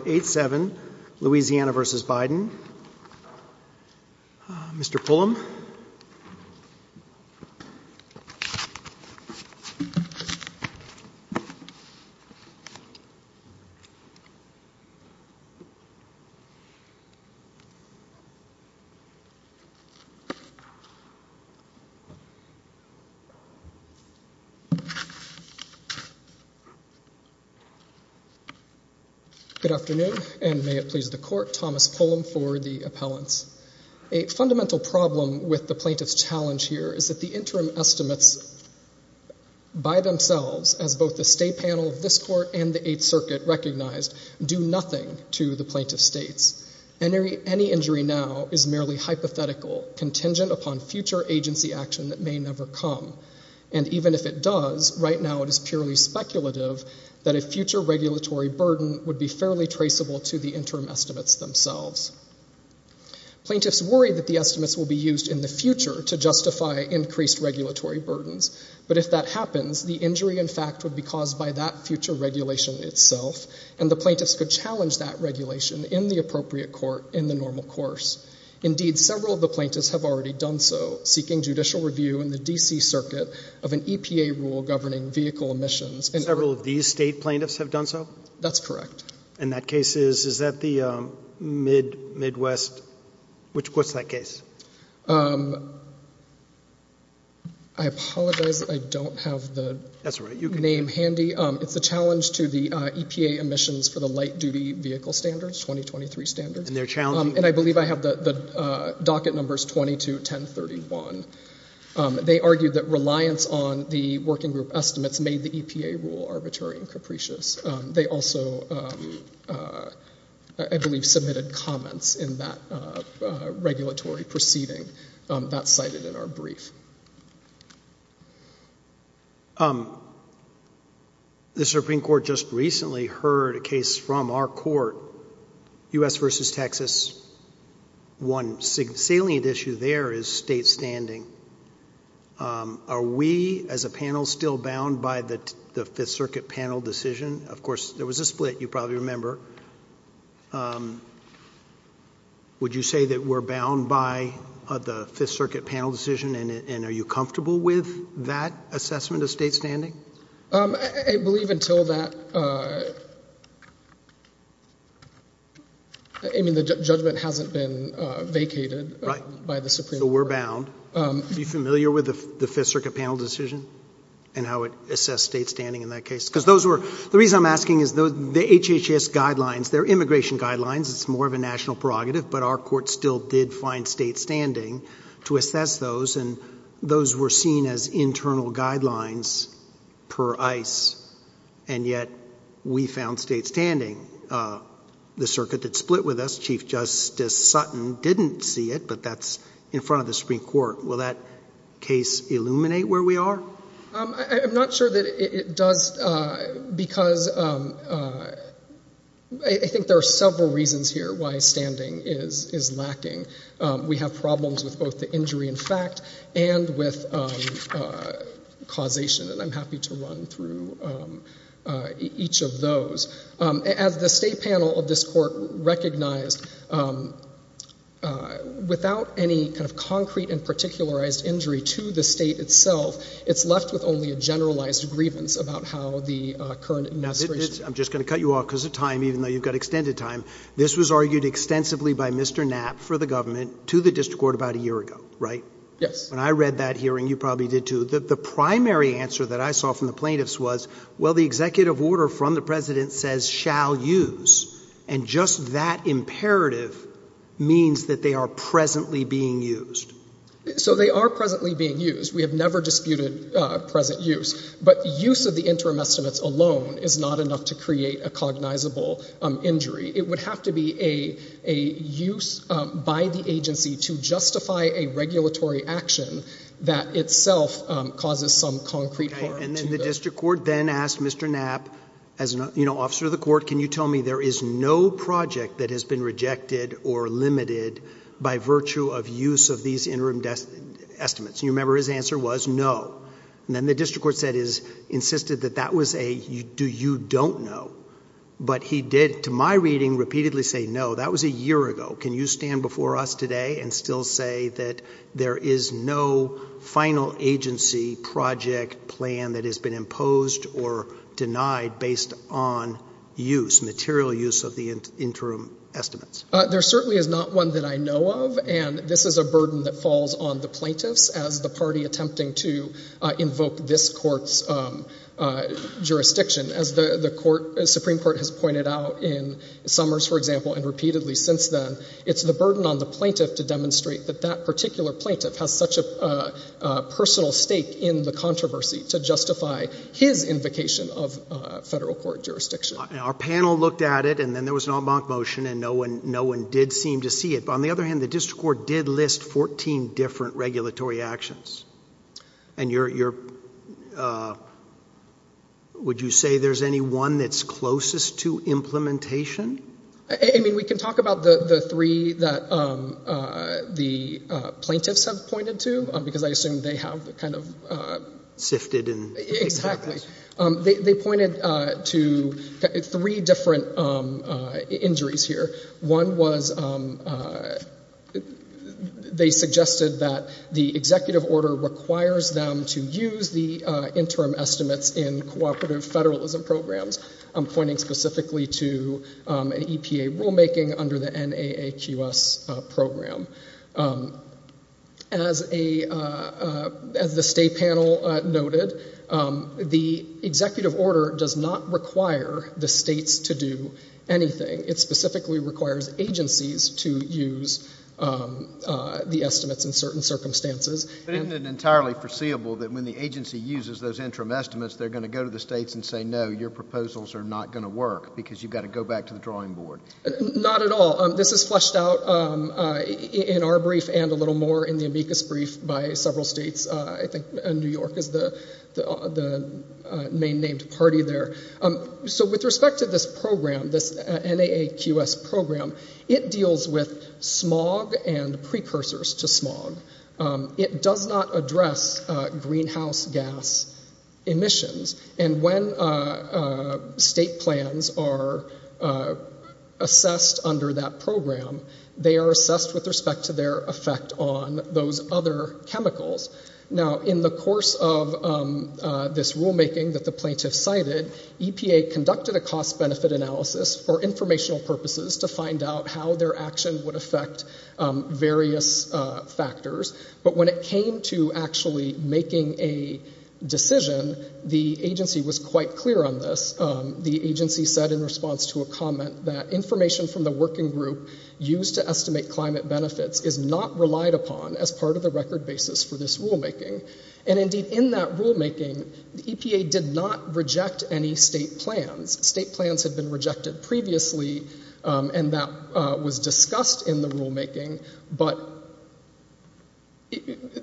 Louisiana v. Biden, Mr. Pullum. Good afternoon, and may it please the court, Thomas Pullum for the appellants. A fundamental problem with the plaintiff's challenge here is that the interim estimates by themselves, as both the state panel of this court and the Eighth Circuit recognized, do nothing to the plaintiff's states. Any injury now is merely hypothetical, contingent upon future agency action that may never come. And even if it does, right now it is purely speculative that a future regulatory burden would be fairly traceable to the interim estimates themselves. Plaintiffs worry that the estimates will be used in the future to justify increased regulatory burdens. But if that happens, the injury in fact would be caused by that future regulation itself, and the plaintiffs could challenge that regulation in the appropriate court in the normal course. Indeed, several of the plaintiffs have already done so, seeking judicial review in the D.C. Circuit of an EPA rule governing vehicle emissions. Several of these state plaintiffs have done so? That's correct. And that case is, is that the Midwest, which, what's that case? I apologize, I don't have the name handy. It's a challenge to the EPA emissions for the light duty vehicle standards, 2023 standards. And they're challenging? And I believe I have the docket numbers 22, 10, 31. They argue that reliance on the working group estimates made the EPA rule arbitrary and capricious. They also, I believe, submitted comments in that regulatory proceeding. That's cited in our brief. The Supreme Court just recently heard a case from our court, U.S. versus Texas. One salient issue there is state standing. Are we, as a panel, still bound by the Fifth Circuit panel decision? Of course, there was a split, you probably remember. Would you say that we're bound by the Fifth Circuit panel decision and are you comfortable with that assessment of state standing? I believe until that, I mean, the judgment hasn't been vacated by the Supreme Court. So we're bound. Are you familiar with the Fifth Circuit panel decision and how it assessed state standing in that case? The reason I'm asking is the HHS guidelines, their immigration guidelines, it's more of a national prerogative, but our court still did find state standing to assess those and those were seen as internal guidelines per ICE, and yet we found state standing. The circuit that split with us, Chief Justice Sutton didn't see it, but that's in front of the Supreme Court. Will that case illuminate where we are? I'm not sure that it does because I think there are several reasons here why standing is lacking. We have problems with both the injury in fact and with causation, and I'm happy to run through each of those. As the state panel of this court recognized, without any kind of concrete and particularized injury to the state itself, it's left with only a generalized grievance about how the current administration. I'm just going to cut you off because of time, even though you've got extended time. This was argued extensively by Mr. Knapp for the government to the district court about a year ago, right? Yes. When I read that hearing, you probably did too, the primary answer that I saw from the plaintiffs was, well, the executive order from the president says shall use, and just that imperative means that they are presently being used. So they are presently being used. We have never disputed present use, but use of the interim estimates alone is not enough to create a cognizable injury. It would have to be a use by the agency to justify a regulatory action that itself causes some concrete harm. The district court then asked Mr. Knapp, as an officer of the court, can you tell me there is no project that has been rejected or limited by virtue of use of these interim estimates? You remember his answer was no. Then the district court insisted that that was a, do you don't know? But he did, to my reading, repeatedly say no. That was a year ago. Can you stand before us today and still say that there is no final agency project plan that has been imposed or denied based on use, material use of the interim estimates? There certainly is not one that I know of, and this is a burden that falls on the plaintiffs as the party attempting to invoke this court's jurisdiction. As the Supreme Court has pointed out in Summers, for example, and repeatedly since then, it's the burden on the plaintiff to demonstrate that that particular plaintiff has such a personal stake in the controversy to justify his invocation of federal court jurisdiction. Our panel looked at it, and then there was an en banc motion, and no one did seem to see it. But on the other hand, the district court did list 14 different regulatory actions. And you're, would you say there's any one that's closest to implementation? I mean, we can talk about the three that the plaintiffs have pointed to, because I assume they have kind of. Sifted and. Exactly. They pointed to three different injuries here. One was, they suggested that the executive order requires them to use the interim estimates in cooperative federalism programs. I'm pointing specifically to an EPA rulemaking under the NAAQS program. As the state panel noted, the executive order does not require the states to do anything. It specifically requires agencies to use the estimates in certain circumstances. But isn't it entirely foreseeable that when the agency uses those interim estimates, they're going to go to the states and say, no, your proposals are not going to work because you've got to go back to the drawing board? Not at all. This is fleshed out in our brief and a little more in the amicus brief by several states. I think New York is the main named party there. So with respect to this program, this NAAQS program, it deals with smog and precursors to smog. It does not address greenhouse gas emissions. And when state plans are assessed under that program, they are assessed with respect to their effect on those other chemicals. Now, in the course of this rulemaking that the plaintiffs cited, EPA conducted a cost-benefit analysis for informational purposes to find out how their action would affect various factors. But when it came to actually making a decision, the agency was quite clear on this. The agency said in response to a comment that information from the working group used to estimate climate benefits is not relied upon as part of the record basis for this rulemaking. And indeed, in that rulemaking, the EPA did not reject any state plans. State plans had been rejected previously, and that was discussed in the rulemaking. But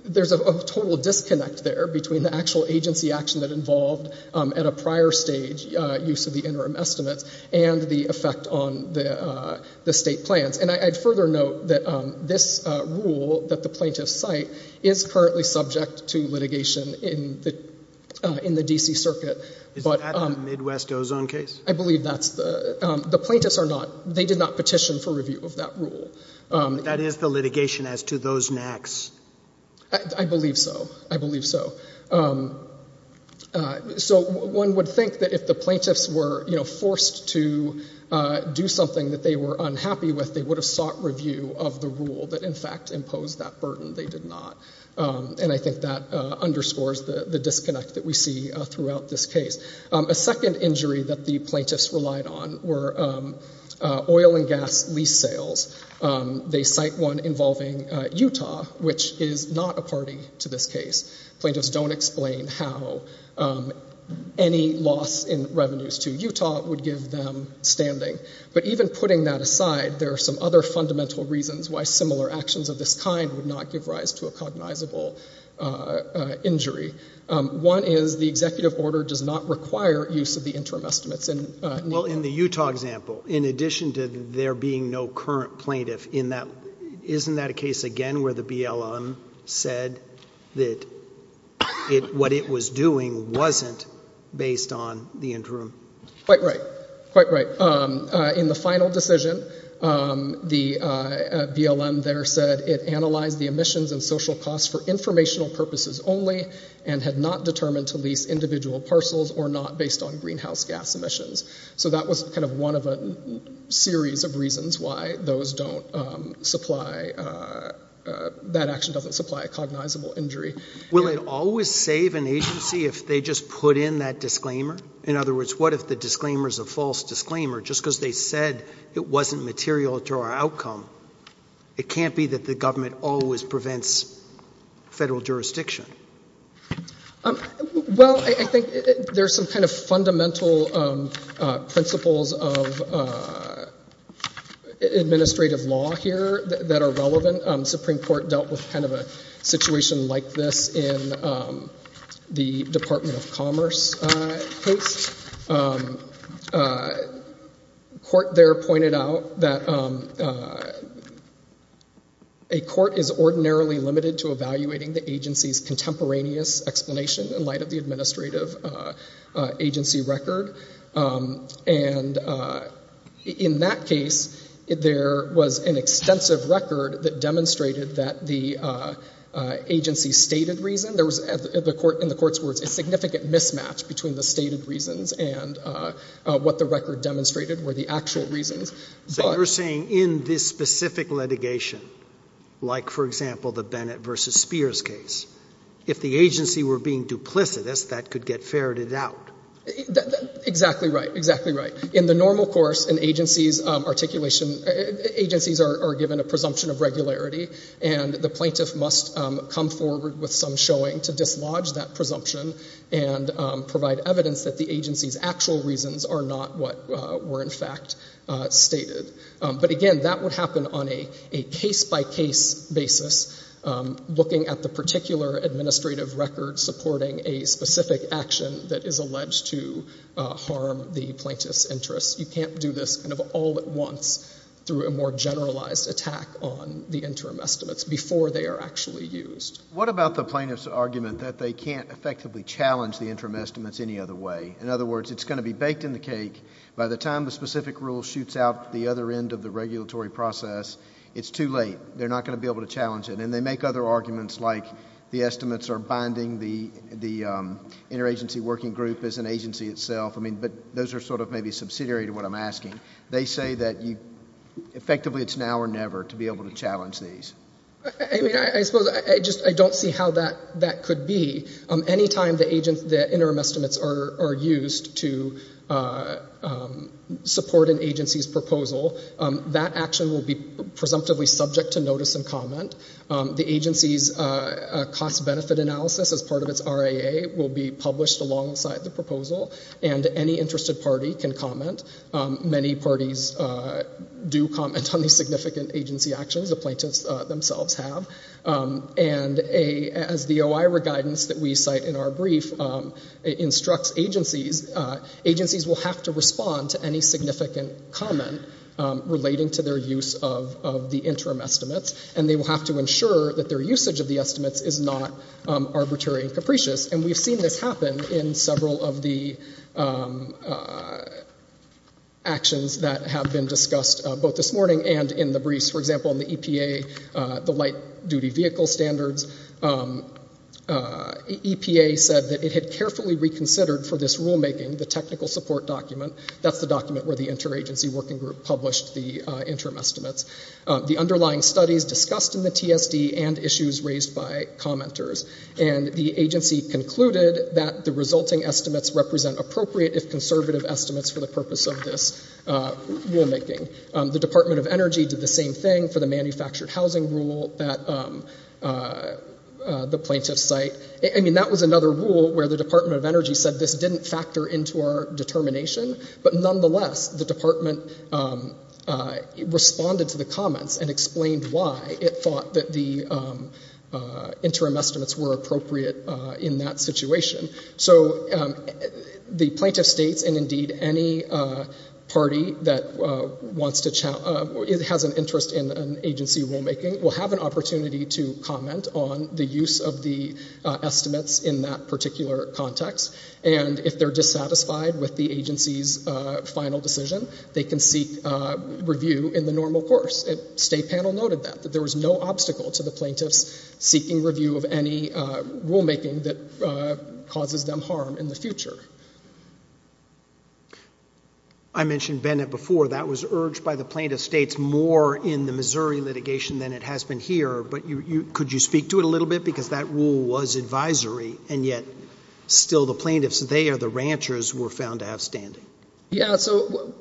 there's a total disconnect there between the actual agency action that involved, at a prior stage, use of the interim estimates and the effect on the state plans. And I'd further note that this rule that the plaintiffs cite is currently subject to litigation in the D.C. Circuit. Is that the Midwest ozone case? I believe that's the—the plaintiffs are not—they did not petition for review of that rule. That is the litigation as to those NACs. I believe so. I believe so. So one would think that if the plaintiffs were, you know, forced to do something that they were unhappy with, they would have sought review of the rule that in fact imposed that burden. They did not. And I think that underscores the disconnect that we see throughout this case. A second injury that the plaintiffs relied on were oil and gas lease sales. They cite one involving Utah, which is not a party to this case. Plaintiffs don't explain how any loss in revenues to Utah would give them standing. But even putting that aside, there are some other fundamental reasons why similar actions of this kind would not give rise to a cognizable injury. One is the executive order does not require use of the interim estimates. Well, in the Utah example, in addition to there being no current plaintiff, isn't that a case again where the BLM said that what it was doing wasn't based on the interim? Quite right. Quite right. In the final decision, the BLM there said it analyzed the emissions and social costs for informational purposes only and had not determined to lease individual parcels or not based on greenhouse gas emissions. So that was kind of one of a series of reasons why those don't supply, that action doesn't supply a cognizable injury. Will it always save an agency if they just put in that disclaimer? In other words, what if the disclaimer is a false disclaimer just because they said it wasn't material to our outcome? It can't be that the government always prevents federal jurisdiction. Well, I think there's some kind of fundamental principles of administrative law here that are relevant. The Supreme Court dealt with kind of a situation like this in the Department of Commerce case. The court there pointed out that a court is ordinarily limited to evaluating the agency's contemporaneous explanation in light of the administrative agency record. And in that case, there was an extensive record that demonstrated that the agency stated reason. There was, in the court's words, a significant mismatch between the stated reasons and what the record demonstrated were the actual reasons. So you're saying in this specific litigation, like, for example, the Bennett v. Spears case, if the agency were being duplicitous, that could get ferreted out? Exactly right, exactly right. In the normal course, agencies are given a presumption of regularity, and the plaintiff must come forward with some showing to dislodge that presumption and provide evidence that the agency's actual reasons are not what were in fact stated. But again, that would happen on a case-by-case basis, looking at the particular administrative record supporting a specific action that is alleged to harm the plaintiff's interests. You can't do this kind of all at once through a more generalized attack on the interim estimates before they are actually used. What about the plaintiff's argument that they can't effectively challenge the interim estimates any other way? In other words, it's going to be baked in the cake. By the time the specific rule shoots out the other end of the regulatory process, it's too late. They're not going to be able to challenge it. And they make other arguments like the estimates are binding the interagency working group as an agency itself. I mean, but those are sort of maybe subsidiary to what I'm asking. They say that effectively it's now or never to be able to challenge these. I mean, I suppose I just don't see how that could be. Anytime the interim estimates are used to support an agency's proposal, that action will be presumptively subject to notice and comment. The agency's cost-benefit analysis as part of its RAA will be published alongside the proposal, and any interested party can comment. Many parties do comment on these significant agency actions. The plaintiffs themselves have. And as the OIRA guidance that we cite in our brief instructs agencies, agencies will have to respond to any significant comment relating to their use of the interim estimates, and they will have to ensure that their usage of the estimates is not arbitrary and capricious. And we've seen this happen in several of the actions that have been discussed both this morning and in the briefs. For example, in the EPA, the light-duty vehicle standards, EPA said that it had carefully reconsidered for this rulemaking the technical support document. That's the document where the interagency working group published the interim estimates. The underlying studies discussed in the TSD and issues raised by commenters, and the agency concluded that the resulting estimates represent appropriate if conservative estimates for the purpose of this rulemaking. The Department of Energy did the same thing for the manufactured housing rule that the plaintiffs cite. I mean, that was another rule where the Department of Energy said this didn't factor into our determination, but nonetheless the department responded to the comments and explained why it thought that the interim estimates were appropriate in that situation. So the plaintiff states, and indeed any party that has an interest in agency rulemaking, will have an opportunity to comment on the use of the estimates in that particular context, and if they're dissatisfied with the agency's final decision, they can seek review in the normal course. The state panel noted that, that there was no obstacle to the plaintiffs seeking review of any rulemaking that causes them harm in the future. I mentioned Bennett before. That was urged by the plaintiff states more in the Missouri litigation than it has been here, but could you speak to it a little bit, because that rule was advisory, and yet still the plaintiffs, they are the ranchers, were found to have standing. Yeah, so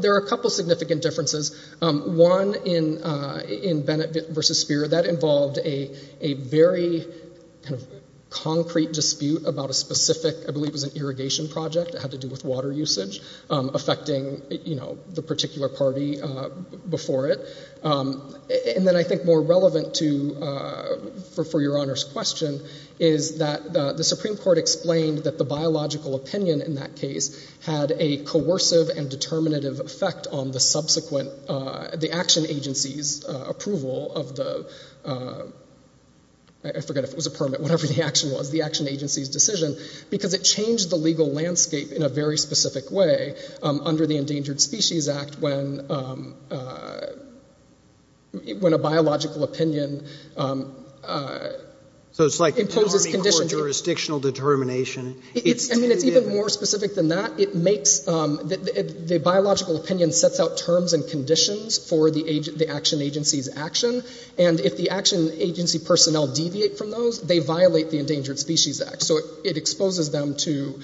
there are a couple significant differences. One in Bennett v. Speer, that involved a very concrete dispute about a specific, I believe it was an irrigation project that had to do with water usage, affecting the particular party before it. And then I think more relevant to, for your Honor's question, is that the Supreme Court explained that the biological opinion in that case had a coercive and determinative effect on the subsequent, the action agency's approval of the, I forget if it was a permit, whatever the action was, the action agency's decision, because it changed the legal landscape in a very specific way under the Endangered Species Act when a biological opinion imposes conditions. So it's like an Army court jurisdictional determination. I mean, it's even more specific than that. It makes, the biological opinion sets out terms and conditions for the action agency's action, and if the action agency personnel deviate from those, they violate the Endangered Species Act. So it exposes them to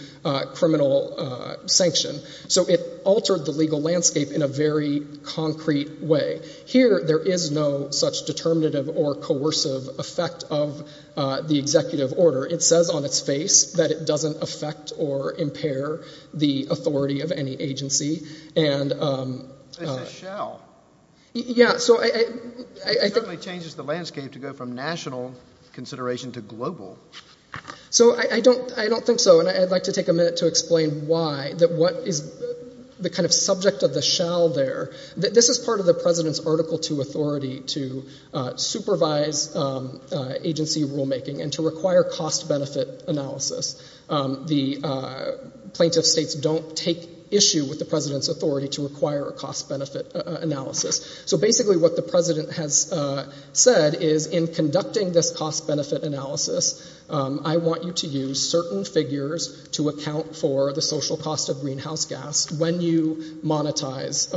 criminal sanction. So it altered the legal landscape in a very concrete way. Here, there is no such determinative or coercive effect of the executive order. It says on its face that it doesn't affect or impair the authority of any agency. It's a shell. Yeah. It certainly changes the landscape to go from national consideration to global. So I don't think so, and I'd like to take a minute to explain why, that what is the kind of subject of the shell there. This is part of the President's Article II authority to supervise agency rulemaking and to require cost-benefit analysis. The plaintiff states don't take issue with the President's authority to require a cost-benefit analysis. So basically what the President has said is in conducting this cost-benefit analysis, I want you to use certain figures to account for the social cost of greenhouse gas when you monetize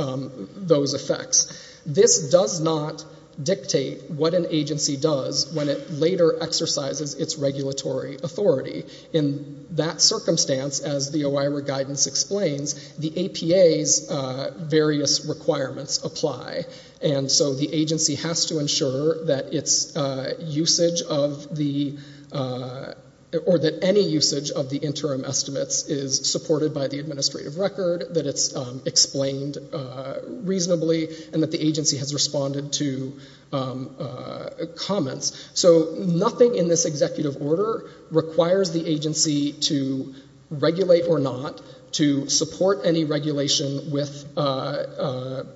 those effects. This does not dictate what an agency does when it later exercises its regulatory authority. In that circumstance, as the OIRA guidance explains, the APA's various requirements apply. And so the agency has to ensure that its usage of the, or that any usage of the interim estimates is supported by the administrative record, that it's explained reasonably, and that the agency has responded to comments. So nothing in this executive order requires the agency to regulate or not, to support any regulation with a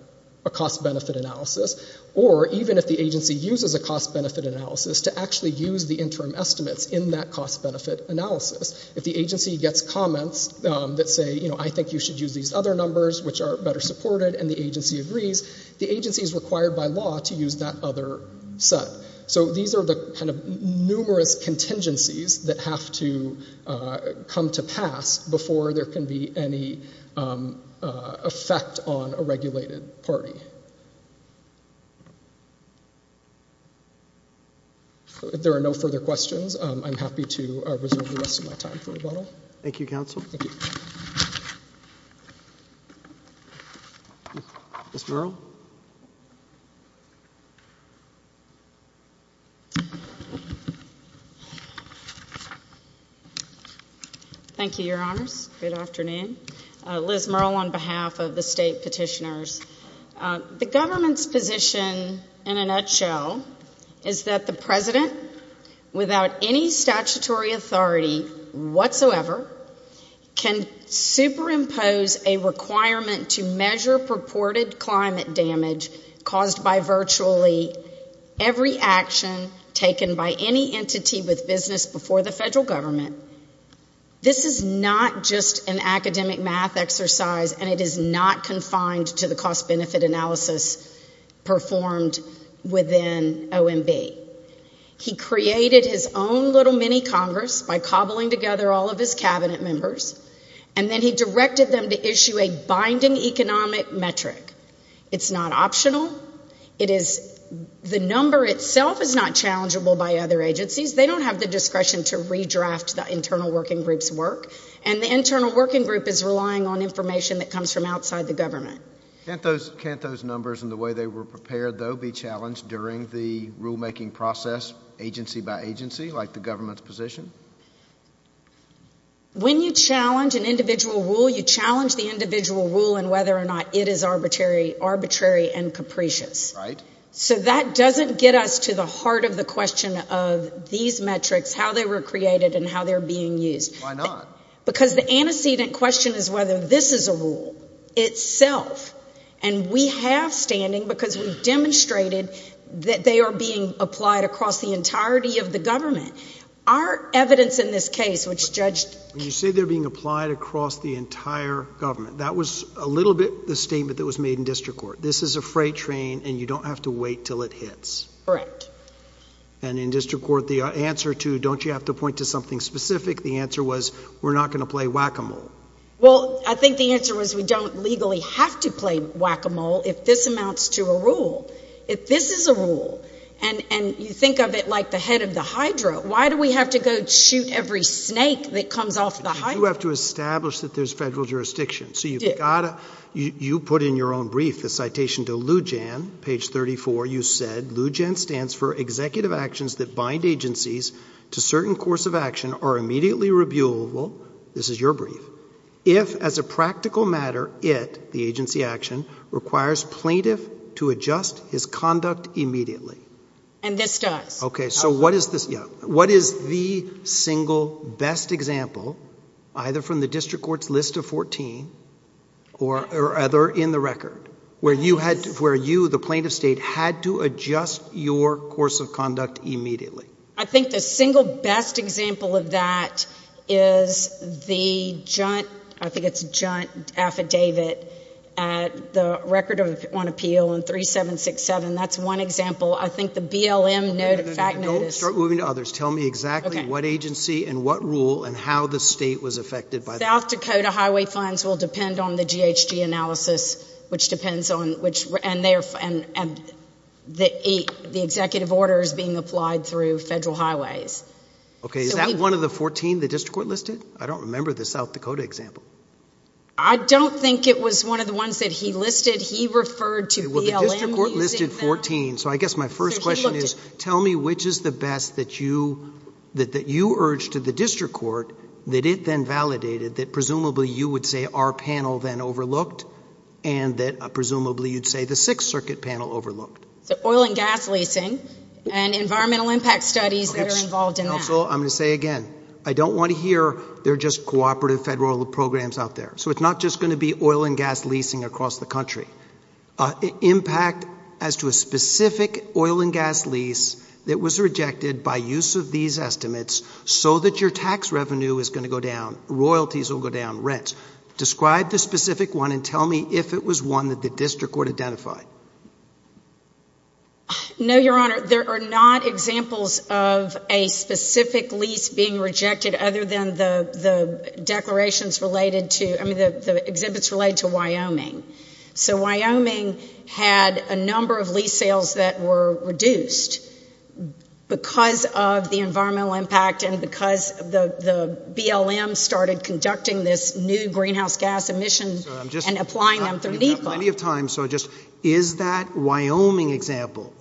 cost-benefit analysis, or even if the agency uses a cost-benefit analysis, to actually use the interim estimates in that cost-benefit analysis. If the agency gets comments that say, you know, I think you should use these other numbers, which are better supported, and the agency agrees, the agency is required by law to use that other set. So these are the kind of numerous contingencies that have to come to pass before there can be any effect on a regulated party. If there are no further questions, I'm happy to reserve the rest of my time for rebuttal. Thank you, Counsel. Thank you. Ms. Merle. Thank you, Your Honors. Good afternoon. Liz Merle on behalf of the state petitioners. The government's position, in a nutshell, is that the president, without any statutory authority whatsoever, can superimpose a requirement to measure purported climate damage caused by virtually every action taken by any entity with business before the federal government. This is not just an academic math exercise, and it is not confined to the cost-benefit analysis performed within OMB. He created his own little mini-Congress by cobbling together all of his cabinet members, and then he directed them to issue a binding economic metric. It's not optional. The number itself is not challengeable by other agencies. They don't have the discretion to redraft the internal working group's work, and the internal working group is relying on information that comes from outside the government. Can't those numbers and the way they were prepared, though, be challenged during the rulemaking process, agency by agency, like the government's position? When you challenge an individual rule, you challenge the individual rule and whether or not it is arbitrary and capricious. Right. So that doesn't get us to the heart of the question of these metrics, how they were created, and how they're being used. Why not? Because the antecedent question is whether this is a rule itself, and we have standing because we've demonstrated that they are being applied across the entirety of the government. Our evidence in this case, which Judge— When you say they're being applied across the entire government, that was a little bit the statement that was made in district court. This is a freight train, and you don't have to wait until it hits. Correct. And in district court, the answer to don't you have to point to something specific, the answer was we're not going to play whack-a-mole. Well, I think the answer was we don't legally have to play whack-a-mole if this amounts to a rule. If this is a rule, and you think of it like the head of the hydro, why do we have to go shoot every snake that comes off the hydro? You have to establish that there's federal jurisdiction. So you've got to—you put in your own brief the citation to Lujan, page 34. You said, Lujan stands for executive actions that bind agencies to certain course of action are immediately reviewable. This is your brief. If, as a practical matter, it, the agency action, requires plaintiff to adjust his conduct immediately. And this does. Okay. So what is the single best example, either from the district court's list of 14 or other in the record, where you, the plaintiff's state, had to adjust your course of conduct immediately? I think the single best example of that is the, I think it's a giant affidavit, the record on appeal in 3767. That's one example. I think the BLM fact note is— Don't start moving to others. Tell me exactly what agency and what rule and how the state was affected by that. South Dakota highway fines will depend on the GHG analysis, which depends on, and the executive order is being applied through federal highways. Okay. Is that one of the 14 the district court listed? I don't remember the South Dakota example. I don't think it was one of the ones that he listed. He referred to BLM using that. So I guess my first question is tell me which is the best that you urged to the district court that it then validated that presumably you would say our panel then overlooked and that presumably you'd say the Sixth Circuit panel overlooked. So oil and gas leasing and environmental impact studies that are involved in that. Counsel, I'm going to say again, I don't want to hear they're just cooperative federal programs out there. So it's not just going to be oil and gas leasing across the country. Impact as to a specific oil and gas lease that was rejected by use of these estimates so that your tax revenue is going to go down, royalties will go down, rents. Describe the specific one and tell me if it was one that the district court identified. No, Your Honor, there are not examples of a specific lease being rejected other than the declarations related to, I mean, the exhibits related to Wyoming. So Wyoming had a number of lease sales that were reduced because of the environmental impact and because the BLM started conducting this new greenhouse gas emission and applying them through NEPA. So I'm just going to have plenty of time, so just is that Wyoming example?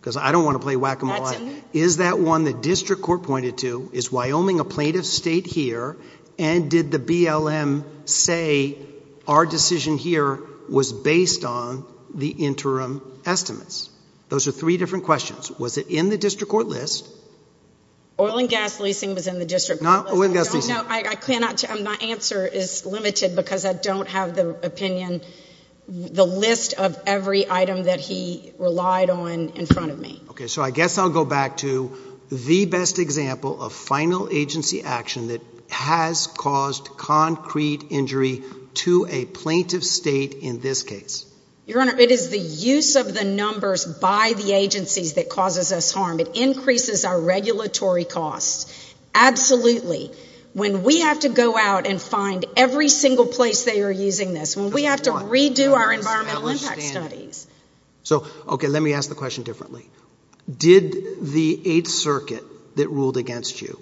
Because I don't want to play whack-a-mole. Is that one the district court pointed to? Is Wyoming a plaintiff state here? And did the BLM say our decision here was based on the interim estimates? Those are three different questions. Was it in the district court list? Oil and gas leasing was in the district court list. Not oil and gas leasing. No, I cannot, my answer is limited because I don't have the opinion, the list of every item that he relied on in front of me. Okay, so I guess I'll go back to the best example of final agency action that has caused concrete injury to a plaintiff state in this case. Your Honor, it is the use of the numbers by the agencies that causes us harm. It increases our regulatory costs. Absolutely. When we have to go out and find every single place they are using this, when we have to redo our environmental impact studies. So, okay, let me ask the question differently. Did the Eighth Circuit that ruled against you,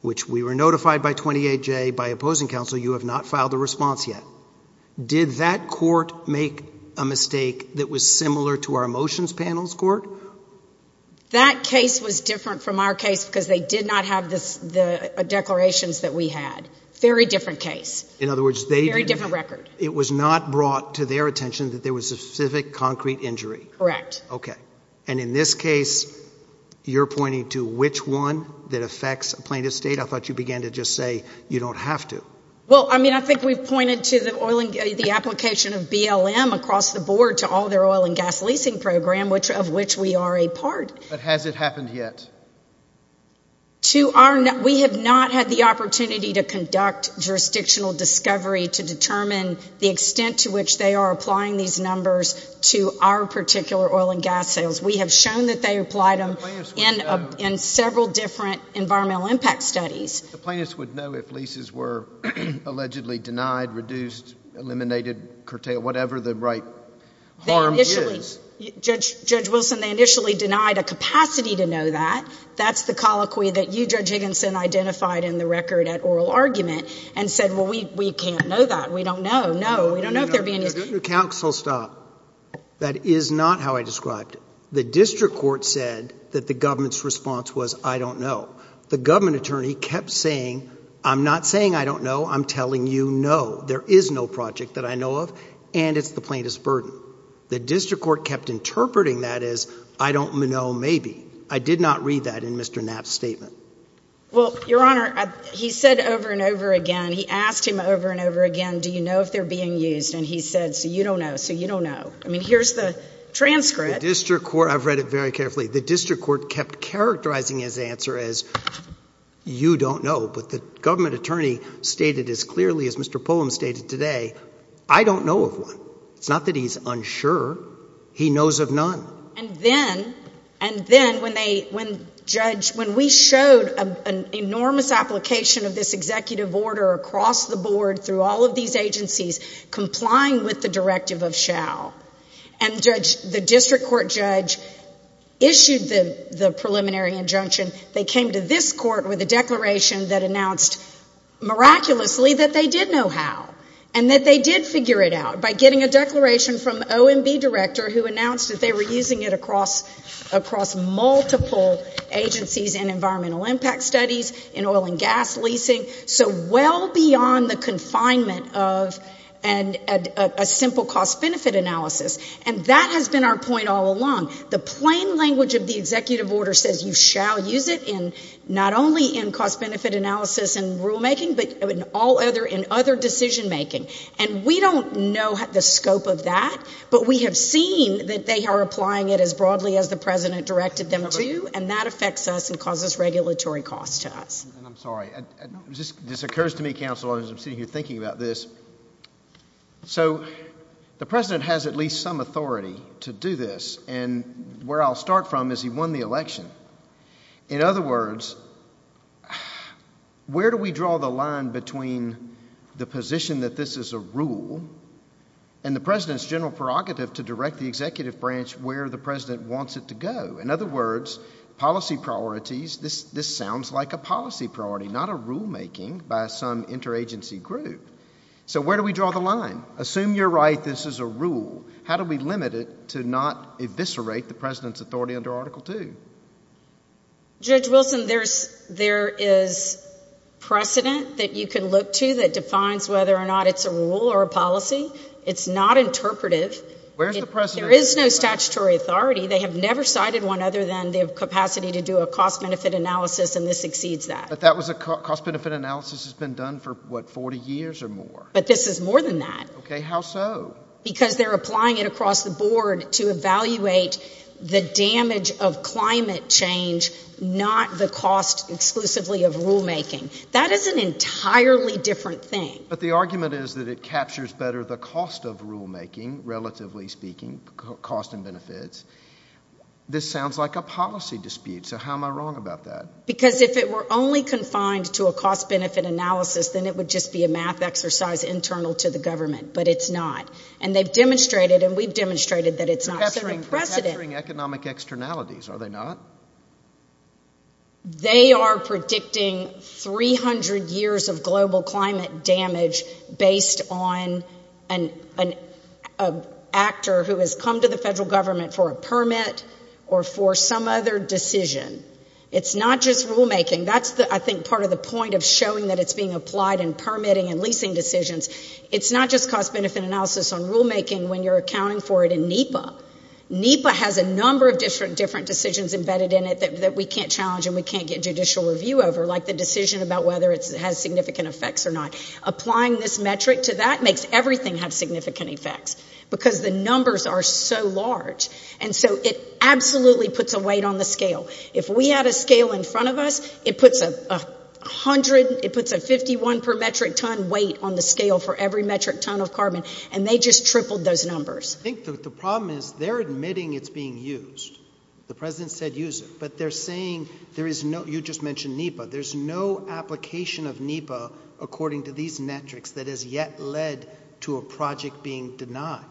which we were notified by 28J by opposing counsel, you have not filed a response yet. Did that court make a mistake that was similar to our motions panel's court? That case was different from our case because they did not have the declarations that we had. Very different case. In other words, they... Very different record. It was not brought to their attention that there was a specific concrete injury. Correct. Okay. And in this case, you're pointing to which one that affects a plaintiff state? I thought you began to just say you don't have to. Well, I mean, I think we've pointed to the application of BLM across the board to all their oil and gas leasing program, of which we are a part. But has it happened yet? We have not had the opportunity to conduct jurisdictional discovery to determine the extent to which they are applying these numbers to our particular oil and gas sales. We have shown that they applied them in several different environmental impact studies. The plaintiffs would know if leases were allegedly denied, reduced, eliminated, curtailed, whatever the right harm is. Judge Wilson, they initially denied a capacity to know that. That's the colloquy that you, Judge Higginson, identified in the record at oral argument and said, well, we can't know that. We don't know. No. We don't know if they're being used. Counsel, stop. That is not how I described it. The district court said that the government's response was, I don't know. The government attorney kept saying, I'm not saying I don't know. I'm telling you no. There is no project that I know of, and it's the plaintiff's burden. The district court kept interpreting that as, I don't know, maybe. I did not read that in Mr. Knapp's statement. Well, Your Honor, he said over and over again, he asked him over and over again, do you know if they're being used? And he said, so you don't know, so you don't know. I mean, here's the transcript. I've read it very carefully. The district court kept characterizing his answer as, you don't know. But the government attorney stated as clearly as Mr. Pullum stated today, I don't know of one. It's not that he's unsure. He knows of none. And then when we showed an enormous application of this executive order across the board through all of these agencies complying with the directive of SHOW, and the district court judge issued the preliminary injunction, they came to this court with a declaration that announced miraculously that they did know how and that they did figure it out by getting a declaration from the OMB director who announced that they were using it across multiple agencies in environmental impact studies, in oil and gas leasing, so well beyond the confinement of a simple cost-benefit analysis. And that has been our point all along. The plain language of the executive order says you shall use it not only in cost-benefit analysis and rulemaking, but in other decision-making. And we don't know the scope of that. But we have seen that they are applying it as broadly as the president directed them to, and that affects us and causes regulatory costs to us. I'm sorry. This occurs to me, counsel, as I'm sitting here thinking about this. So the president has at least some authority to do this. And where I'll start from is he won the election. In other words, where do we draw the line between the position that this is a rule and the president's general prerogative to direct the executive branch where the president wants it to go? In other words, policy priorities, this sounds like a policy priority, not a rulemaking by some interagency group. So where do we draw the line? Assume you're right this is a rule. How do we limit it to not eviscerate the president's authority under Article II? Judge Wilson, there is precedent that you can look to that defines whether or not it's a rule or a policy. It's not interpretive. There is no statutory authority. They have never cited one other than they have capacity to do a cost-benefit analysis, and this exceeds that. But that was a cost-benefit analysis that's been done for, what, 40 years or more? But this is more than that. Okay. How so? Because they're applying it across the board to evaluate the damage of climate change, not the cost exclusively of rulemaking. That is an entirely different thing. But the argument is that it captures better the cost of rulemaking, relatively speaking, cost and benefits. This sounds like a policy dispute, so how am I wrong about that? Because if it were only confined to a cost-benefit analysis, then it would just be a math exercise internal to the government, but it's not. And they've demonstrated, and we've demonstrated, that it's not setting precedent. They're capturing economic externalities, are they not? They are predicting 300 years of global climate damage based on an actor who has come to the federal government for a permit or for some other decision. It's not just rulemaking. That's, I think, part of the point of showing that it's being applied in permitting and leasing decisions. It's not just cost-benefit analysis on rulemaking when you're accounting for it in NEPA. NEPA has a number of different decisions embedded in it that we can't challenge and we can't get judicial review over, like the decision about whether it has significant effects or not. Applying this metric to that makes everything have significant effects because the numbers are so large. And so it absolutely puts a weight on the scale. If we had a scale in front of us, it puts a 51-per-metric-ton weight on the scale for every metric ton of carbon, and they just tripled those numbers. I think the problem is they're admitting it's being used. The president said use it. But they're saying there is no—you just mentioned NEPA. There's no application of NEPA according to these metrics that has yet led to a project being denied.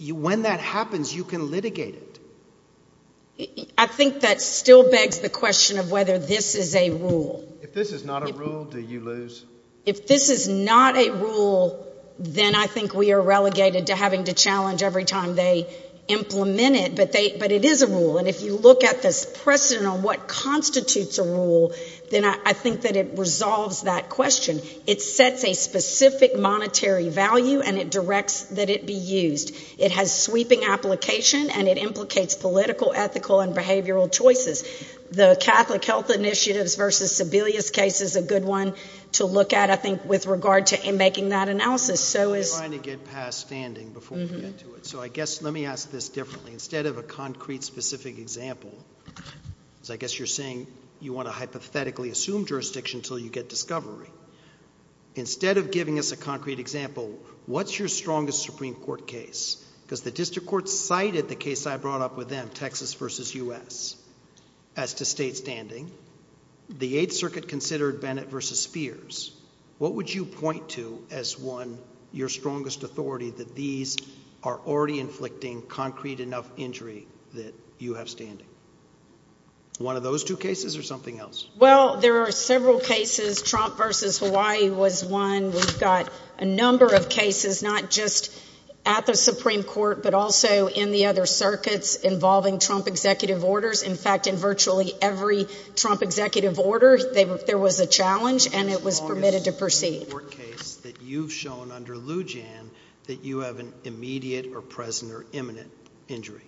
When that happens, you can litigate it. I think that still begs the question of whether this is a rule. If this is not a rule, do you lose? They're having to challenge every time they implement it, but it is a rule. And if you look at this precedent on what constitutes a rule, then I think that it resolves that question. It sets a specific monetary value, and it directs that it be used. It has sweeping application, and it implicates political, ethical, and behavioral choices. The Catholic Health Initiatives v. Sebelius case is a good one to look at, I think, with regard to making that analysis. I'm trying to get past standing before we get to it. So I guess—let me ask this differently. Instead of a concrete, specific example, because I guess you're saying you want to hypothetically assume jurisdiction until you get discovery. Instead of giving us a concrete example, what's your strongest Supreme Court case? Because the district court cited the case I brought up with them, Texas v. U.S., as to state standing. The Eighth Circuit considered Bennett v. Spears. What would you point to as one, your strongest authority, that these are already inflicting concrete enough injury that you have standing? One of those two cases or something else? Well, there are several cases. Trump v. Hawaii was one. We've got a number of cases, not just at the Supreme Court, but also in the other circuits involving Trump executive orders. In fact, in virtually every Trump executive order, there was a challenge, and it was permitted to proceed. What's the strongest Supreme Court case that you've shown under Lou Jan that you have an immediate or present or imminent injury?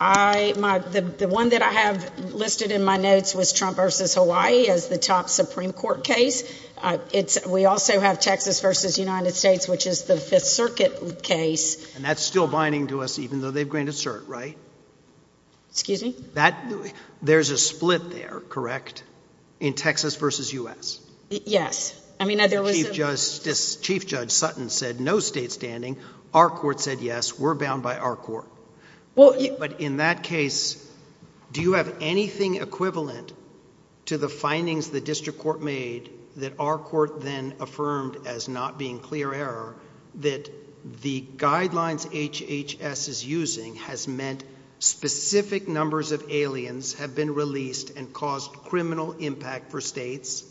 The one that I have listed in my notes was Trump v. Hawaii as the top Supreme Court case. We also have Texas v. United States, which is the Fifth Circuit case. And that's still binding to us, even though they've granted cert, right? Excuse me? There's a split there, correct, in Texas v. U.S.? Yes. Chief Judge Sutton said no state standing. Our court said yes. We're bound by our court. But in that case, do you have anything equivalent to the findings the district court made that our court then affirmed as not being clear error that the guidelines HHS is using has meant specific numbers of aliens have been released and caused criminal impact for states,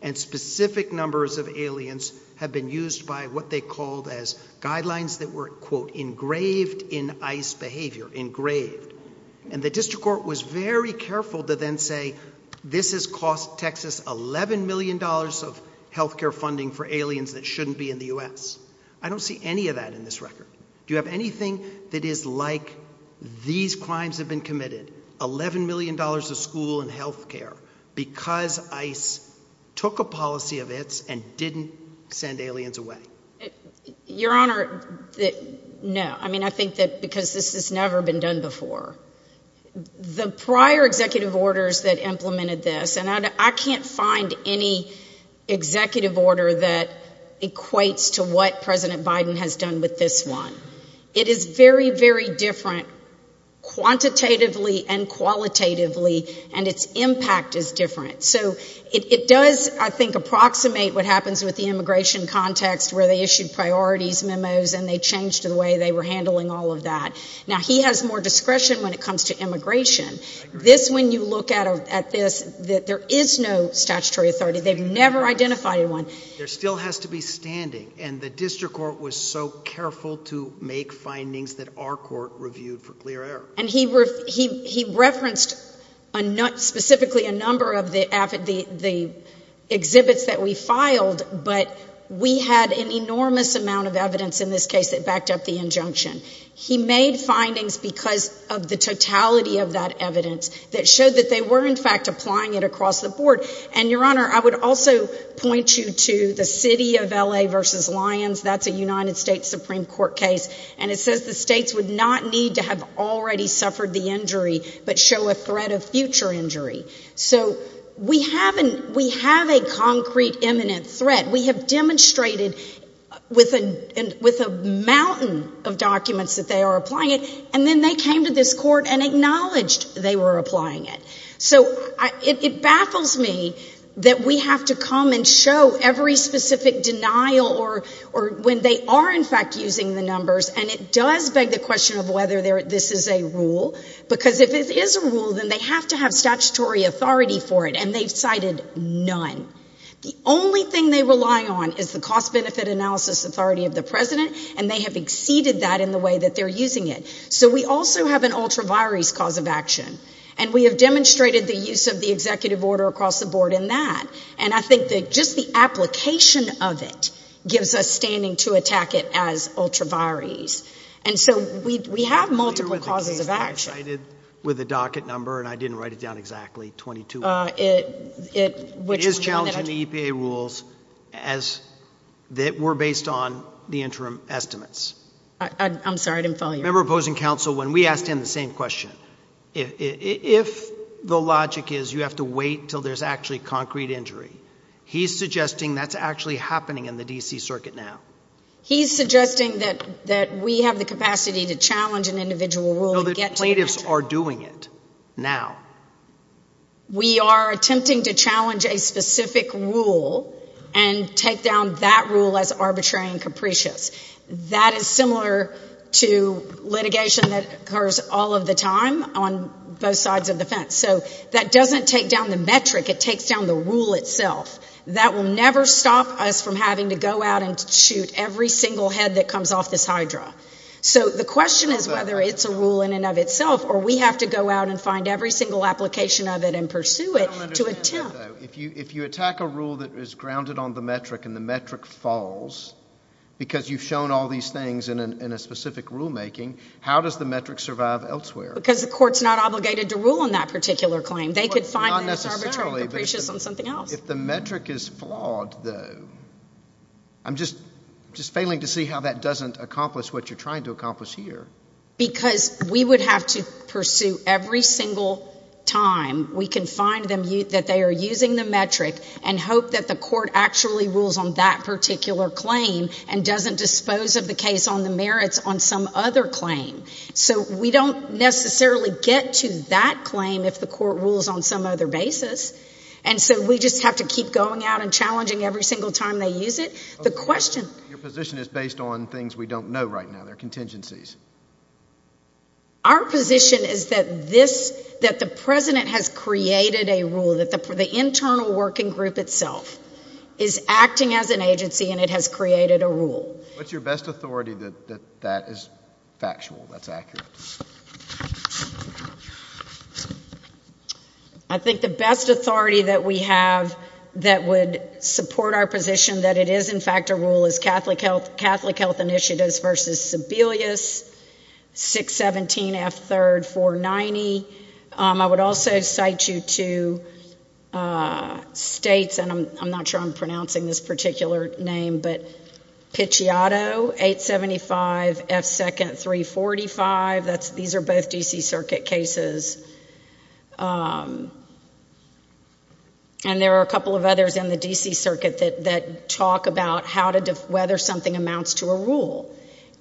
and specific numbers of aliens have been used by what they called as guidelines that were, quote, engraved in ICE behavior, engraved. And the district court was very careful to then say, this has cost Texas $11 million of health care funding for aliens that shouldn't be in the U.S. I don't see any of that in this record. Do you have anything that is like these crimes have been committed, $11 million of school and health care, because ICE took a policy of its and didn't send aliens away? Your Honor, no. I mean, I think that because this has never been done before. The prior executive orders that implemented this, and I can't find any executive order that equates to what President Biden has done with this one. It is very, very different quantitatively and qualitatively, and its impact is different. So it does, I think, approximate what happens with the immigration context where they issued priorities memos and they changed the way they were handling all of that. Now, he has more discretion when it comes to immigration. This, when you look at this, there is no statutory authority. They've never identified anyone. There still has to be standing, and the district court was so careful to make findings that our court reviewed for clear error. And he referenced specifically a number of the exhibits that we filed, but we had an enormous amount of evidence in this case that backed up the injunction. He made findings because of the totality of that evidence that showed that they were, in fact, applying it across the board. And, Your Honor, I would also point you to the city of L.A. v. Lyons. That's a United States Supreme Court case, and it says the states would not need to have already suffered the injury but show a threat of future injury. So we have a concrete, imminent threat. We have demonstrated with a mountain of documents that they are applying it, and then they came to this court and acknowledged they were applying it. So it baffles me that we have to come and show every specific denial or when they are, in fact, using the numbers, and it does beg the question of whether this is a rule, because if it is a rule, then they have to have statutory authority for it, and they've cited none. The only thing they rely on is the cost-benefit analysis authority of the president, and they have exceeded that in the way that they're using it. So we also have an ultra-virus cause of action, and we have demonstrated the use of the executive order across the board in that. And I think that just the application of it gives us standing to attack it as ultra-virus. And so we have multiple causes of action. He cited with a docket number, and I didn't write it down exactly, 22. It is challenging the EPA rules that were based on the interim estimates. I'm sorry, I didn't follow you. Remember opposing counsel when we asked him the same question. If the logic is you have to wait until there's actually concrete injury, he's suggesting that's actually happening in the D.C. Circuit now. He's suggesting that we have the capacity to challenge an individual rule and get to it. The plaintiffs are doing it now. We are attempting to challenge a specific rule and take down that rule as arbitrary and capricious. That is similar to litigation that occurs all of the time on both sides of the fence. So that doesn't take down the metric. It takes down the rule itself. That will never stop us from having to go out and shoot every single head that comes off this hydra. So the question is whether it's a rule in and of itself or we have to go out and find every single application of it and pursue it to attempt. I don't understand it, though. If you attack a rule that is grounded on the metric and the metric falls because you've shown all these things in a specific rulemaking, how does the metric survive elsewhere? Because the court's not obligated to rule on that particular claim. They could find that it's arbitrary and capricious on something else. If the metric is flawed, though, I'm just failing to see how that doesn't accomplish what you're trying to accomplish here. Because we would have to pursue every single time we can find that they are using the metric and hope that the court actually rules on that particular claim and doesn't dispose of the case on the merits on some other claim. So we don't necessarily get to that claim if the court rules on some other basis. And so we just have to keep going out and challenging every single time they use it. Your position is based on things we don't know right now. They're contingencies. Our position is that the president has created a rule, that the internal working group itself is acting as an agency and it has created a rule. What's your best authority that that is factual, that's accurate? I think the best authority that we have that would support our position that it is in fact a rule is Catholic Health Initiatives v. Sebelius, 617 F. 3rd, 490. I would also cite you to states, and I'm not sure I'm pronouncing this particular name, but Pichiatto, 875 F. 2nd, 345. These are both D.C. Circuit cases. And there are a couple of others in the D.C. Circuit that talk about whether something amounts to a rule.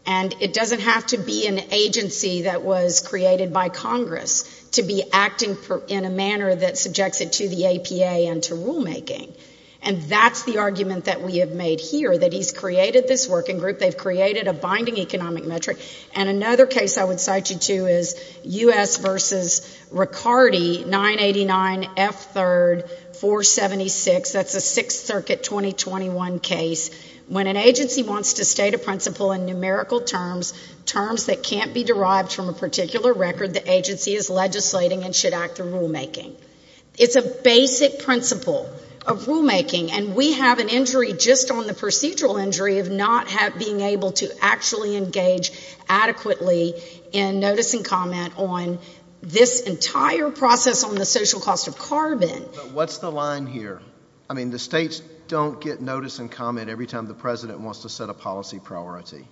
And it doesn't have to be an agency that was created by Congress to be acting in a manner that subjects it to the APA and to rulemaking. And that's the argument that we have made here, that he's created this working group, they've created a binding economic metric. And another case I would cite you to is U.S. v. Riccardi, 989 F. 3rd, 476. That's a Sixth Circuit 2021 case. When an agency wants to state a principle in numerical terms, terms that can't be derived from a particular record the agency is legislating and should act through rulemaking. It's a basic principle of rulemaking, and we have an injury just on the procedural injury of not being able to actually engage adequately in notice and comment on this entire process on the social cost of carbon. But what's the line here? I mean, the states don't get notice and comment every time the president wants to set a policy priority.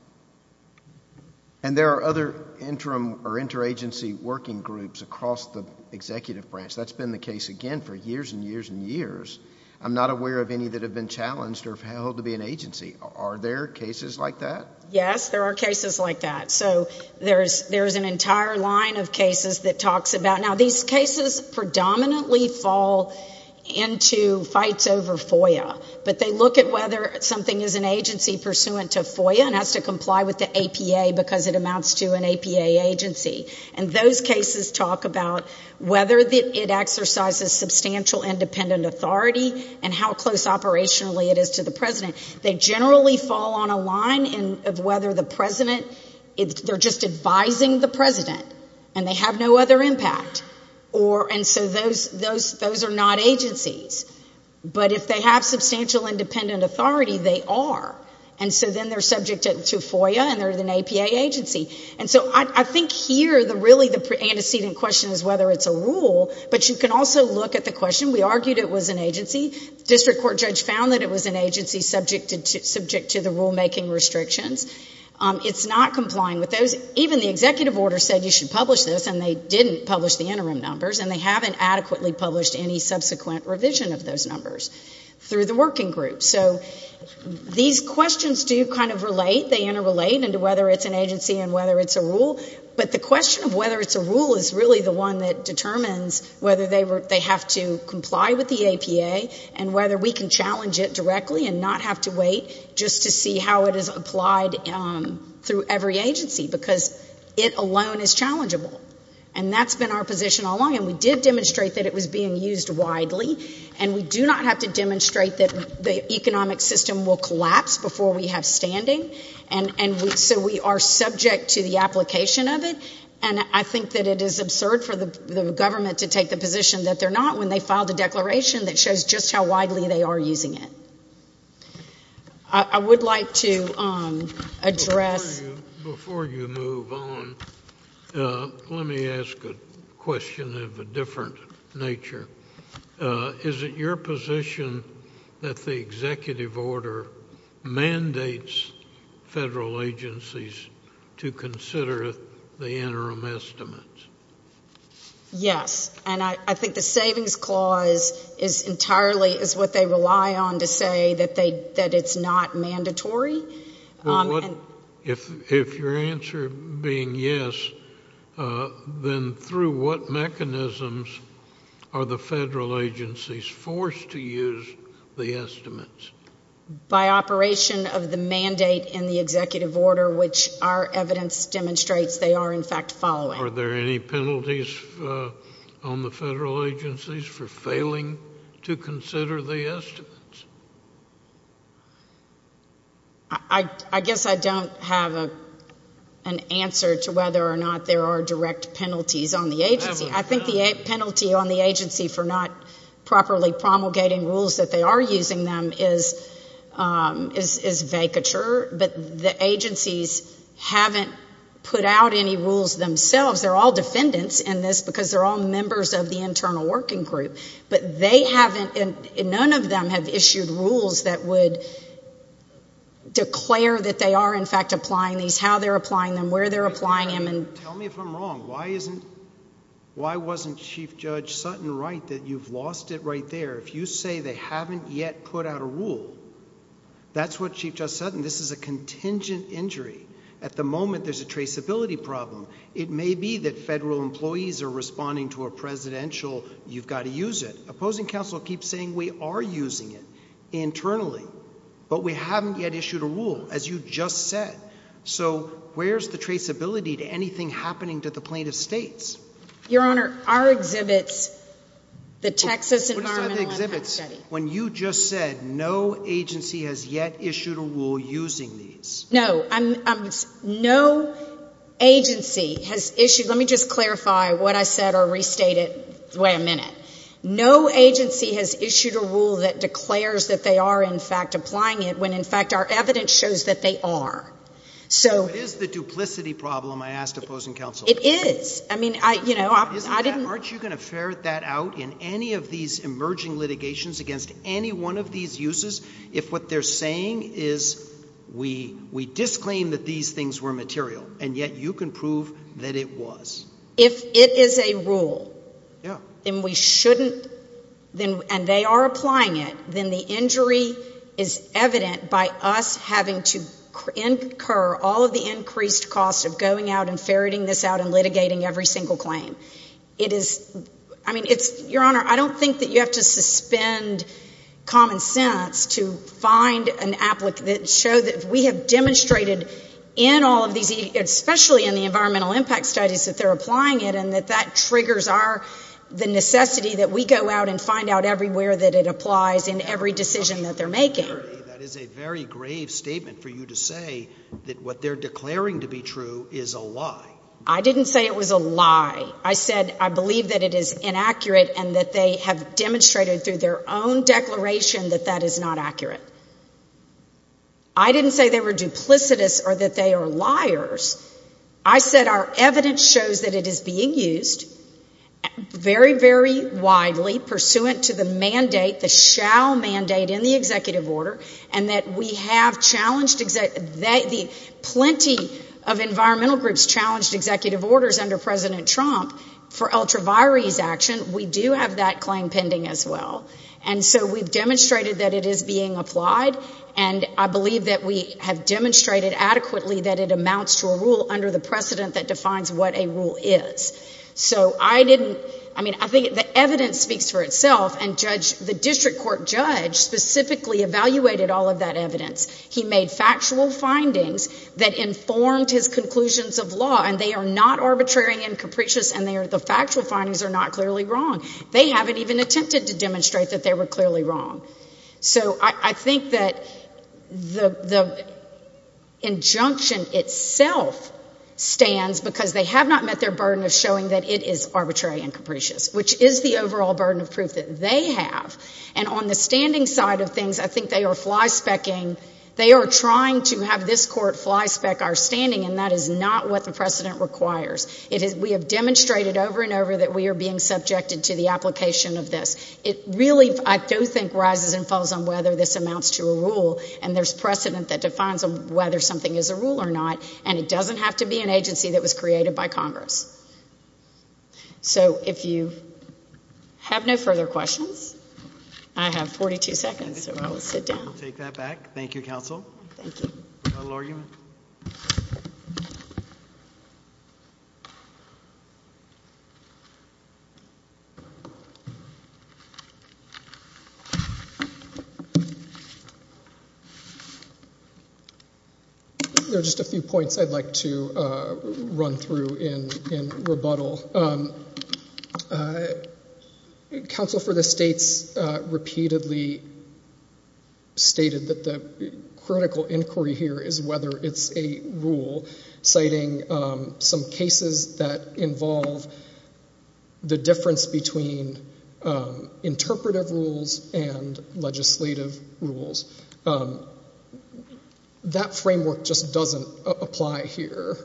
And there are other interim or interagency working groups across the executive branch. That's been the case, again, for years and years and years. I'm not aware of any that have been challenged or held to be an agency. Are there cases like that? Yes, there are cases like that. So there's an entire line of cases that talks about it. Now, these cases predominantly fall into fights over FOIA, but they look at whether something is an agency pursuant to FOIA and has to comply with the APA because it amounts to an APA agency. And those cases talk about whether it exercises substantial independent authority and how close operationally it is to the president. They generally fall on a line of whether the president, they're just advising the president and they have no other impact. And so those are not agencies. But if they have substantial independent authority, they are. And so then they're subject to FOIA and they're an APA agency. And so I think here really the antecedent question is whether it's a rule, but you can also look at the question. We argued it was an agency. The district court judge found that it was an agency subject to the rulemaking restrictions. It's not complying with those. Even the executive order said you should publish this, and they didn't publish the interim numbers, and they haven't adequately published any subsequent revision of those numbers through the working groups. So these questions do kind of relate. They interrelate into whether it's an agency and whether it's a rule. But the question of whether it's a rule is really the one that determines whether they have to comply with the APA and whether we can challenge it directly and not have to wait just to see how it is applied through every agency, because it alone is challengeable. And that's been our position all along. And we did demonstrate that it was being used widely. And we do not have to demonstrate that the economic system will collapse before we have standing. And so we are subject to the application of it. And I think that it is absurd for the government to take the position that they're not when they filed a declaration that shows just how widely they are using it. I would like to address ‑‑ Is it your position that the executive order mandates federal agencies to consider the interim estimates? Yes. And I think the savings clause is entirely what they rely on to say that it's not mandatory. If your answer being yes, then through what mechanisms are the federal agencies forced to use the estimates? By operation of the mandate in the executive order, which our evidence demonstrates they are, in fact, following. Are there any penalties on the federal agencies for failing to consider the estimates? I guess I don't have an answer to whether or not there are direct penalties on the agency. I think the penalty on the agency for not properly promulgating rules that they are using them is vacature. But the agencies haven't put out any rules themselves. They're all defendants in this because they're all members of the internal working group. But they haven't ‑‑ none of them have issued rules that would declare that they are, in fact, applying these, how they're applying them, where they're applying them. Tell me if I'm wrong. Why isn't ‑‑ why wasn't Chief Judge Sutton right that you've lost it right there? If you say they haven't yet put out a rule, that's what Chief Judge Sutton, this is a contingent injury. At the moment there's a traceability problem. It may be that federal employees are responding to a presidential you've got to use it. Opposing counsel keeps saying we are using it internally. But we haven't yet issued a rule, as you just said. So where's the traceability to anything happening to the plaintiff's states? Your Honor, our exhibits, the Texas Environmental Impact Study. When you just said no agency has yet issued a rule using these. No, no agency has issued ‑‑ let me just clarify what I said or restate it. Wait a minute. No agency has issued a rule that declares that they are, in fact, applying it, when, in fact, our evidence shows that they are. So it is the duplicity problem I asked opposing counsel. It is. I mean, you know, I didn't ‑‑ in any of these emerging litigations against any one of these uses, if what they're saying is we disclaim that these things were material, and yet you can prove that it was. If it is a rule and we shouldn't, and they are applying it, then the injury is evident by us having to incur all of the increased costs of going out and ferreting this out and litigating every single claim. It is ‑‑ I mean, it's ‑‑ Your Honor, I don't think that you have to suspend common sense to find an applicant that shows that we have demonstrated in all of these, especially in the environmental impact studies, that they're applying it and that that triggers our ‑‑ the necessity that we go out and find out everywhere that it applies in every decision that they're making. That is a very grave statement for you to say that what they're declaring to be true is a lie. I didn't say it was a lie. I said I believe that it is inaccurate and that they have demonstrated through their own declaration that that is not accurate. I didn't say they were duplicitous or that they are liars. I said our evidence shows that it is being used very, very widely, pursuant to the mandate, the shall mandate in the executive order, and that we have challenged ‑‑ plenty of environmental groups challenged executive orders under President Trump for ultraviaries action. We do have that claim pending as well. And so we've demonstrated that it is being applied, and I believe that we have demonstrated adequately that it amounts to a rule under the precedent that defines what a rule is. So I didn't ‑‑ I mean, I think the evidence speaks for itself, and the district court judge specifically evaluated all of that evidence. He made factual findings that informed his conclusions of law, and they are not arbitrary and capricious, and the factual findings are not clearly wrong. They haven't even attempted to demonstrate that they were clearly wrong. So I think that the injunction itself stands because they have not met their burden of showing that it is arbitrary and capricious, which is the overall burden of proof that they have. And on the standing side of things, I think they are flyspecking. They are trying to have this court flyspeck our standing, and that is not what the precedent requires. We have demonstrated over and over that we are being subjected to the application of this. It really, I do think, rises and falls on whether this amounts to a rule, and there's precedent that defines whether something is a rule or not, and it doesn't have to be an agency that was created by Congress. So if you have no further questions, I have 42 seconds, so I will sit down. We'll take that back. Thank you, counsel. Thank you. Final argument. Thank you. There are just a few points I'd like to run through in rebuttal. Counsel for the States repeatedly stated that the critical inquiry here is whether it's a rule, citing some cases that involve the difference between interpretive rules and legislative rules. That framework just doesn't apply here.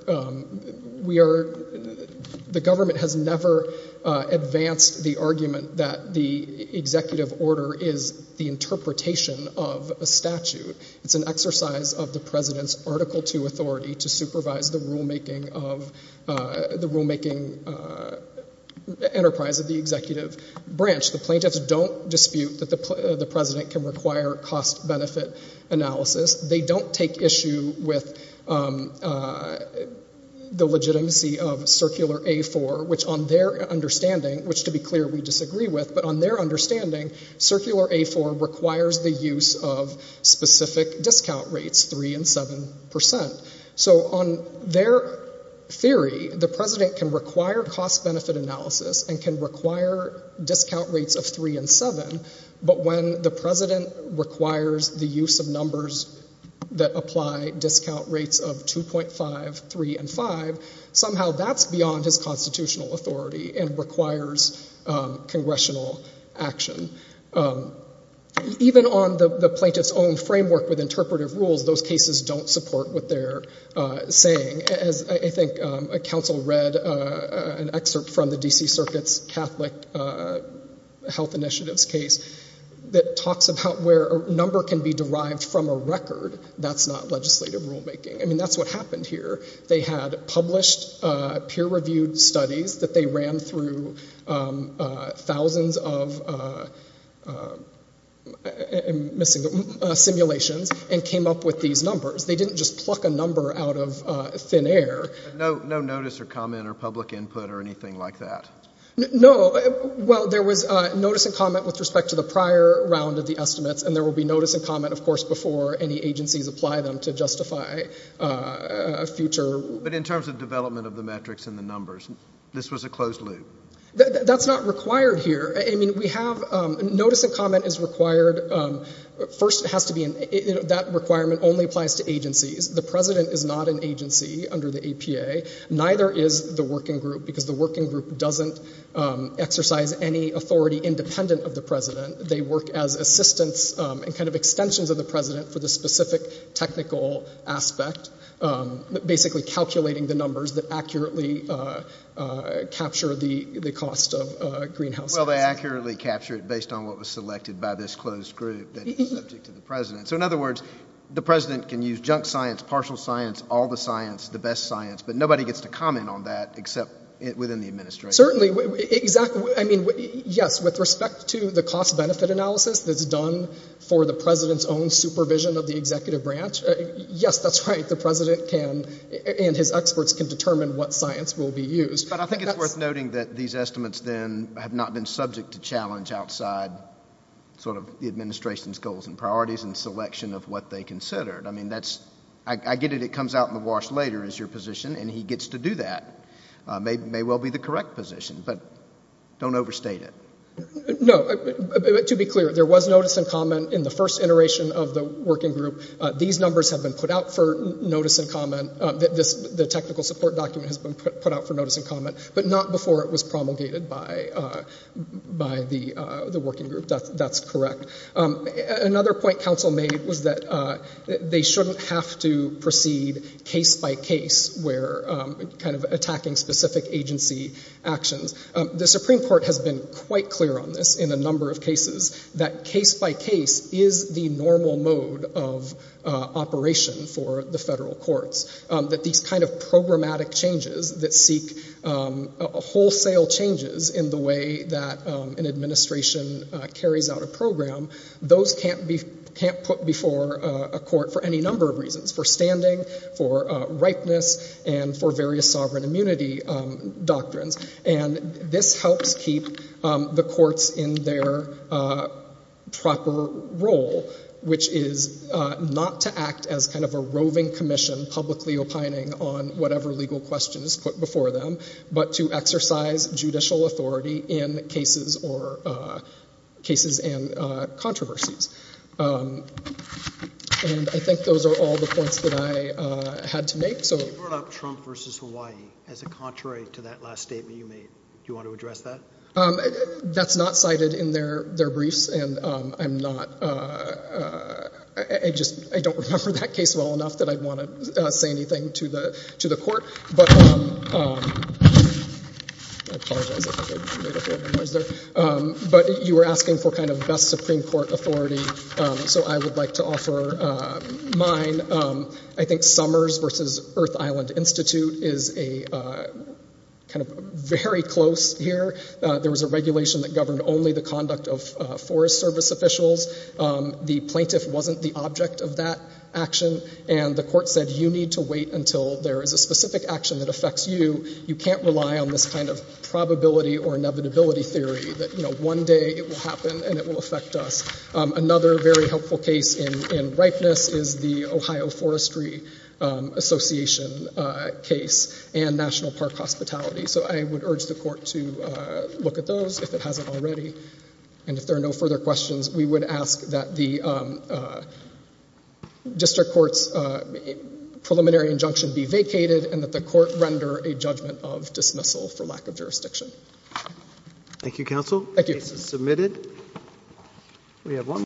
The government has never advanced the argument that the executive order is the interpretation of a statute. It's an exercise of the president's Article II authority to supervise the rulemaking enterprise of the executive branch. The plaintiffs don't dispute that the president can require cost-benefit analysis. They don't take issue with the legitimacy of Circular A-4, which on their understanding, which to be clear we disagree with, but on their understanding, Circular A-4 requires the use of specific discount rates, 3% and 7%. So on their theory, the president can require cost-benefit analysis and can require discount rates of 3% and 7%, but when the president requires the use of numbers that apply discount rates of 2.5, 3, and 5, somehow that's beyond his constitutional authority and requires congressional action. Even on the plaintiff's own framework with interpretive rules, those cases don't support what they're saying. As I think counsel read an excerpt from the D.C. Circuit's Catholic Health Initiatives case that talks about where a number can be derived from a record, that's not legislative rulemaking. I mean, that's what happened here. They had published peer-reviewed studies that they ran through thousands of simulations and came up with these numbers. They didn't just pluck a number out of thin air. No notice or comment or public input or anything like that? No. Well, there was notice and comment with respect to the prior round of the estimates, and there will be notice and comment, of course, before any agencies apply them to justify a future. But in terms of development of the metrics and the numbers, this was a closed loop? That's not required here. Notice and comment is required. First, that requirement only applies to agencies. The president is not an agency under the APA. Neither is the working group because the working group doesn't exercise any authority independent of the president. They work as assistants and kind of extensions of the president for the specific technical aspect, basically calculating the numbers that accurately capture the cost of greenhouse gases. Well, they accurately capture it based on what was selected by this closed group that is subject to the president. So, in other words, the president can use junk science, partial science, all the science, the best science, but nobody gets to comment on that except within the administration. Certainly. Exactly. I mean, yes, with respect to the cost-benefit analysis that's done for the president's own supervision of the executive branch, yes, that's right, the president and his experts can determine what science will be used. But I think it's worth noting that these estimates then have not been subject to challenge outside sort of the administration's goals and priorities and selection of what they considered. I mean, I get it, it comes out in the wash later is your position, and he gets to do that. It may well be the correct position, but don't overstate it. No. To be clear, there was notice and comment in the first iteration of the working group. These numbers have been put out for notice and comment. The technical support document has been put out for notice and comment, but not before it was promulgated by the working group. That's correct. Another point counsel made was that they shouldn't have to proceed case by case, where kind of attacking specific agency actions. The Supreme Court has been quite clear on this in a number of cases, that case by case is the normal mode of operation for the federal courts, that these kind of programmatic changes that seek wholesale changes in the way that an administration carries out a program, those can't be put before a court for any number of reasons, for standing, for ripeness, and for various sovereign immunity doctrines. This helps keep the courts in their proper role, which is not to act as kind of a roving commission publicly opining on whatever legal question is put before them, but to exercise judicial authority in cases and controversies. I think those are all the points that I had to make. You brought up Trump v. Hawaii as a contrary to that last statement you made. Do you want to address that? That's not cited in their briefs, and I don't remember that case well enough that I'd want to say anything to the court. But you were asking for kind of best Supreme Court authority, so I would like to offer mine. I think Summers v. Earth Island Institute is kind of very close here. There was a regulation that governed only the conduct of Forest Service officials. The plaintiff wasn't the object of that action, and the court said you need to wait until there is a specific action that affects you. You can't rely on this kind of probability or inevitability theory that one day it will happen and it will affect us. Another very helpful case in ripeness is the Ohio Forestry Association case and National Park Hospitality. So I would urge the court to look at those if it hasn't already. And if there are no further questions, we would ask that the district court's preliminary injunction be vacated and that the court render a judgment of dismissal for lack of jurisdiction. The case is submitted. We have one...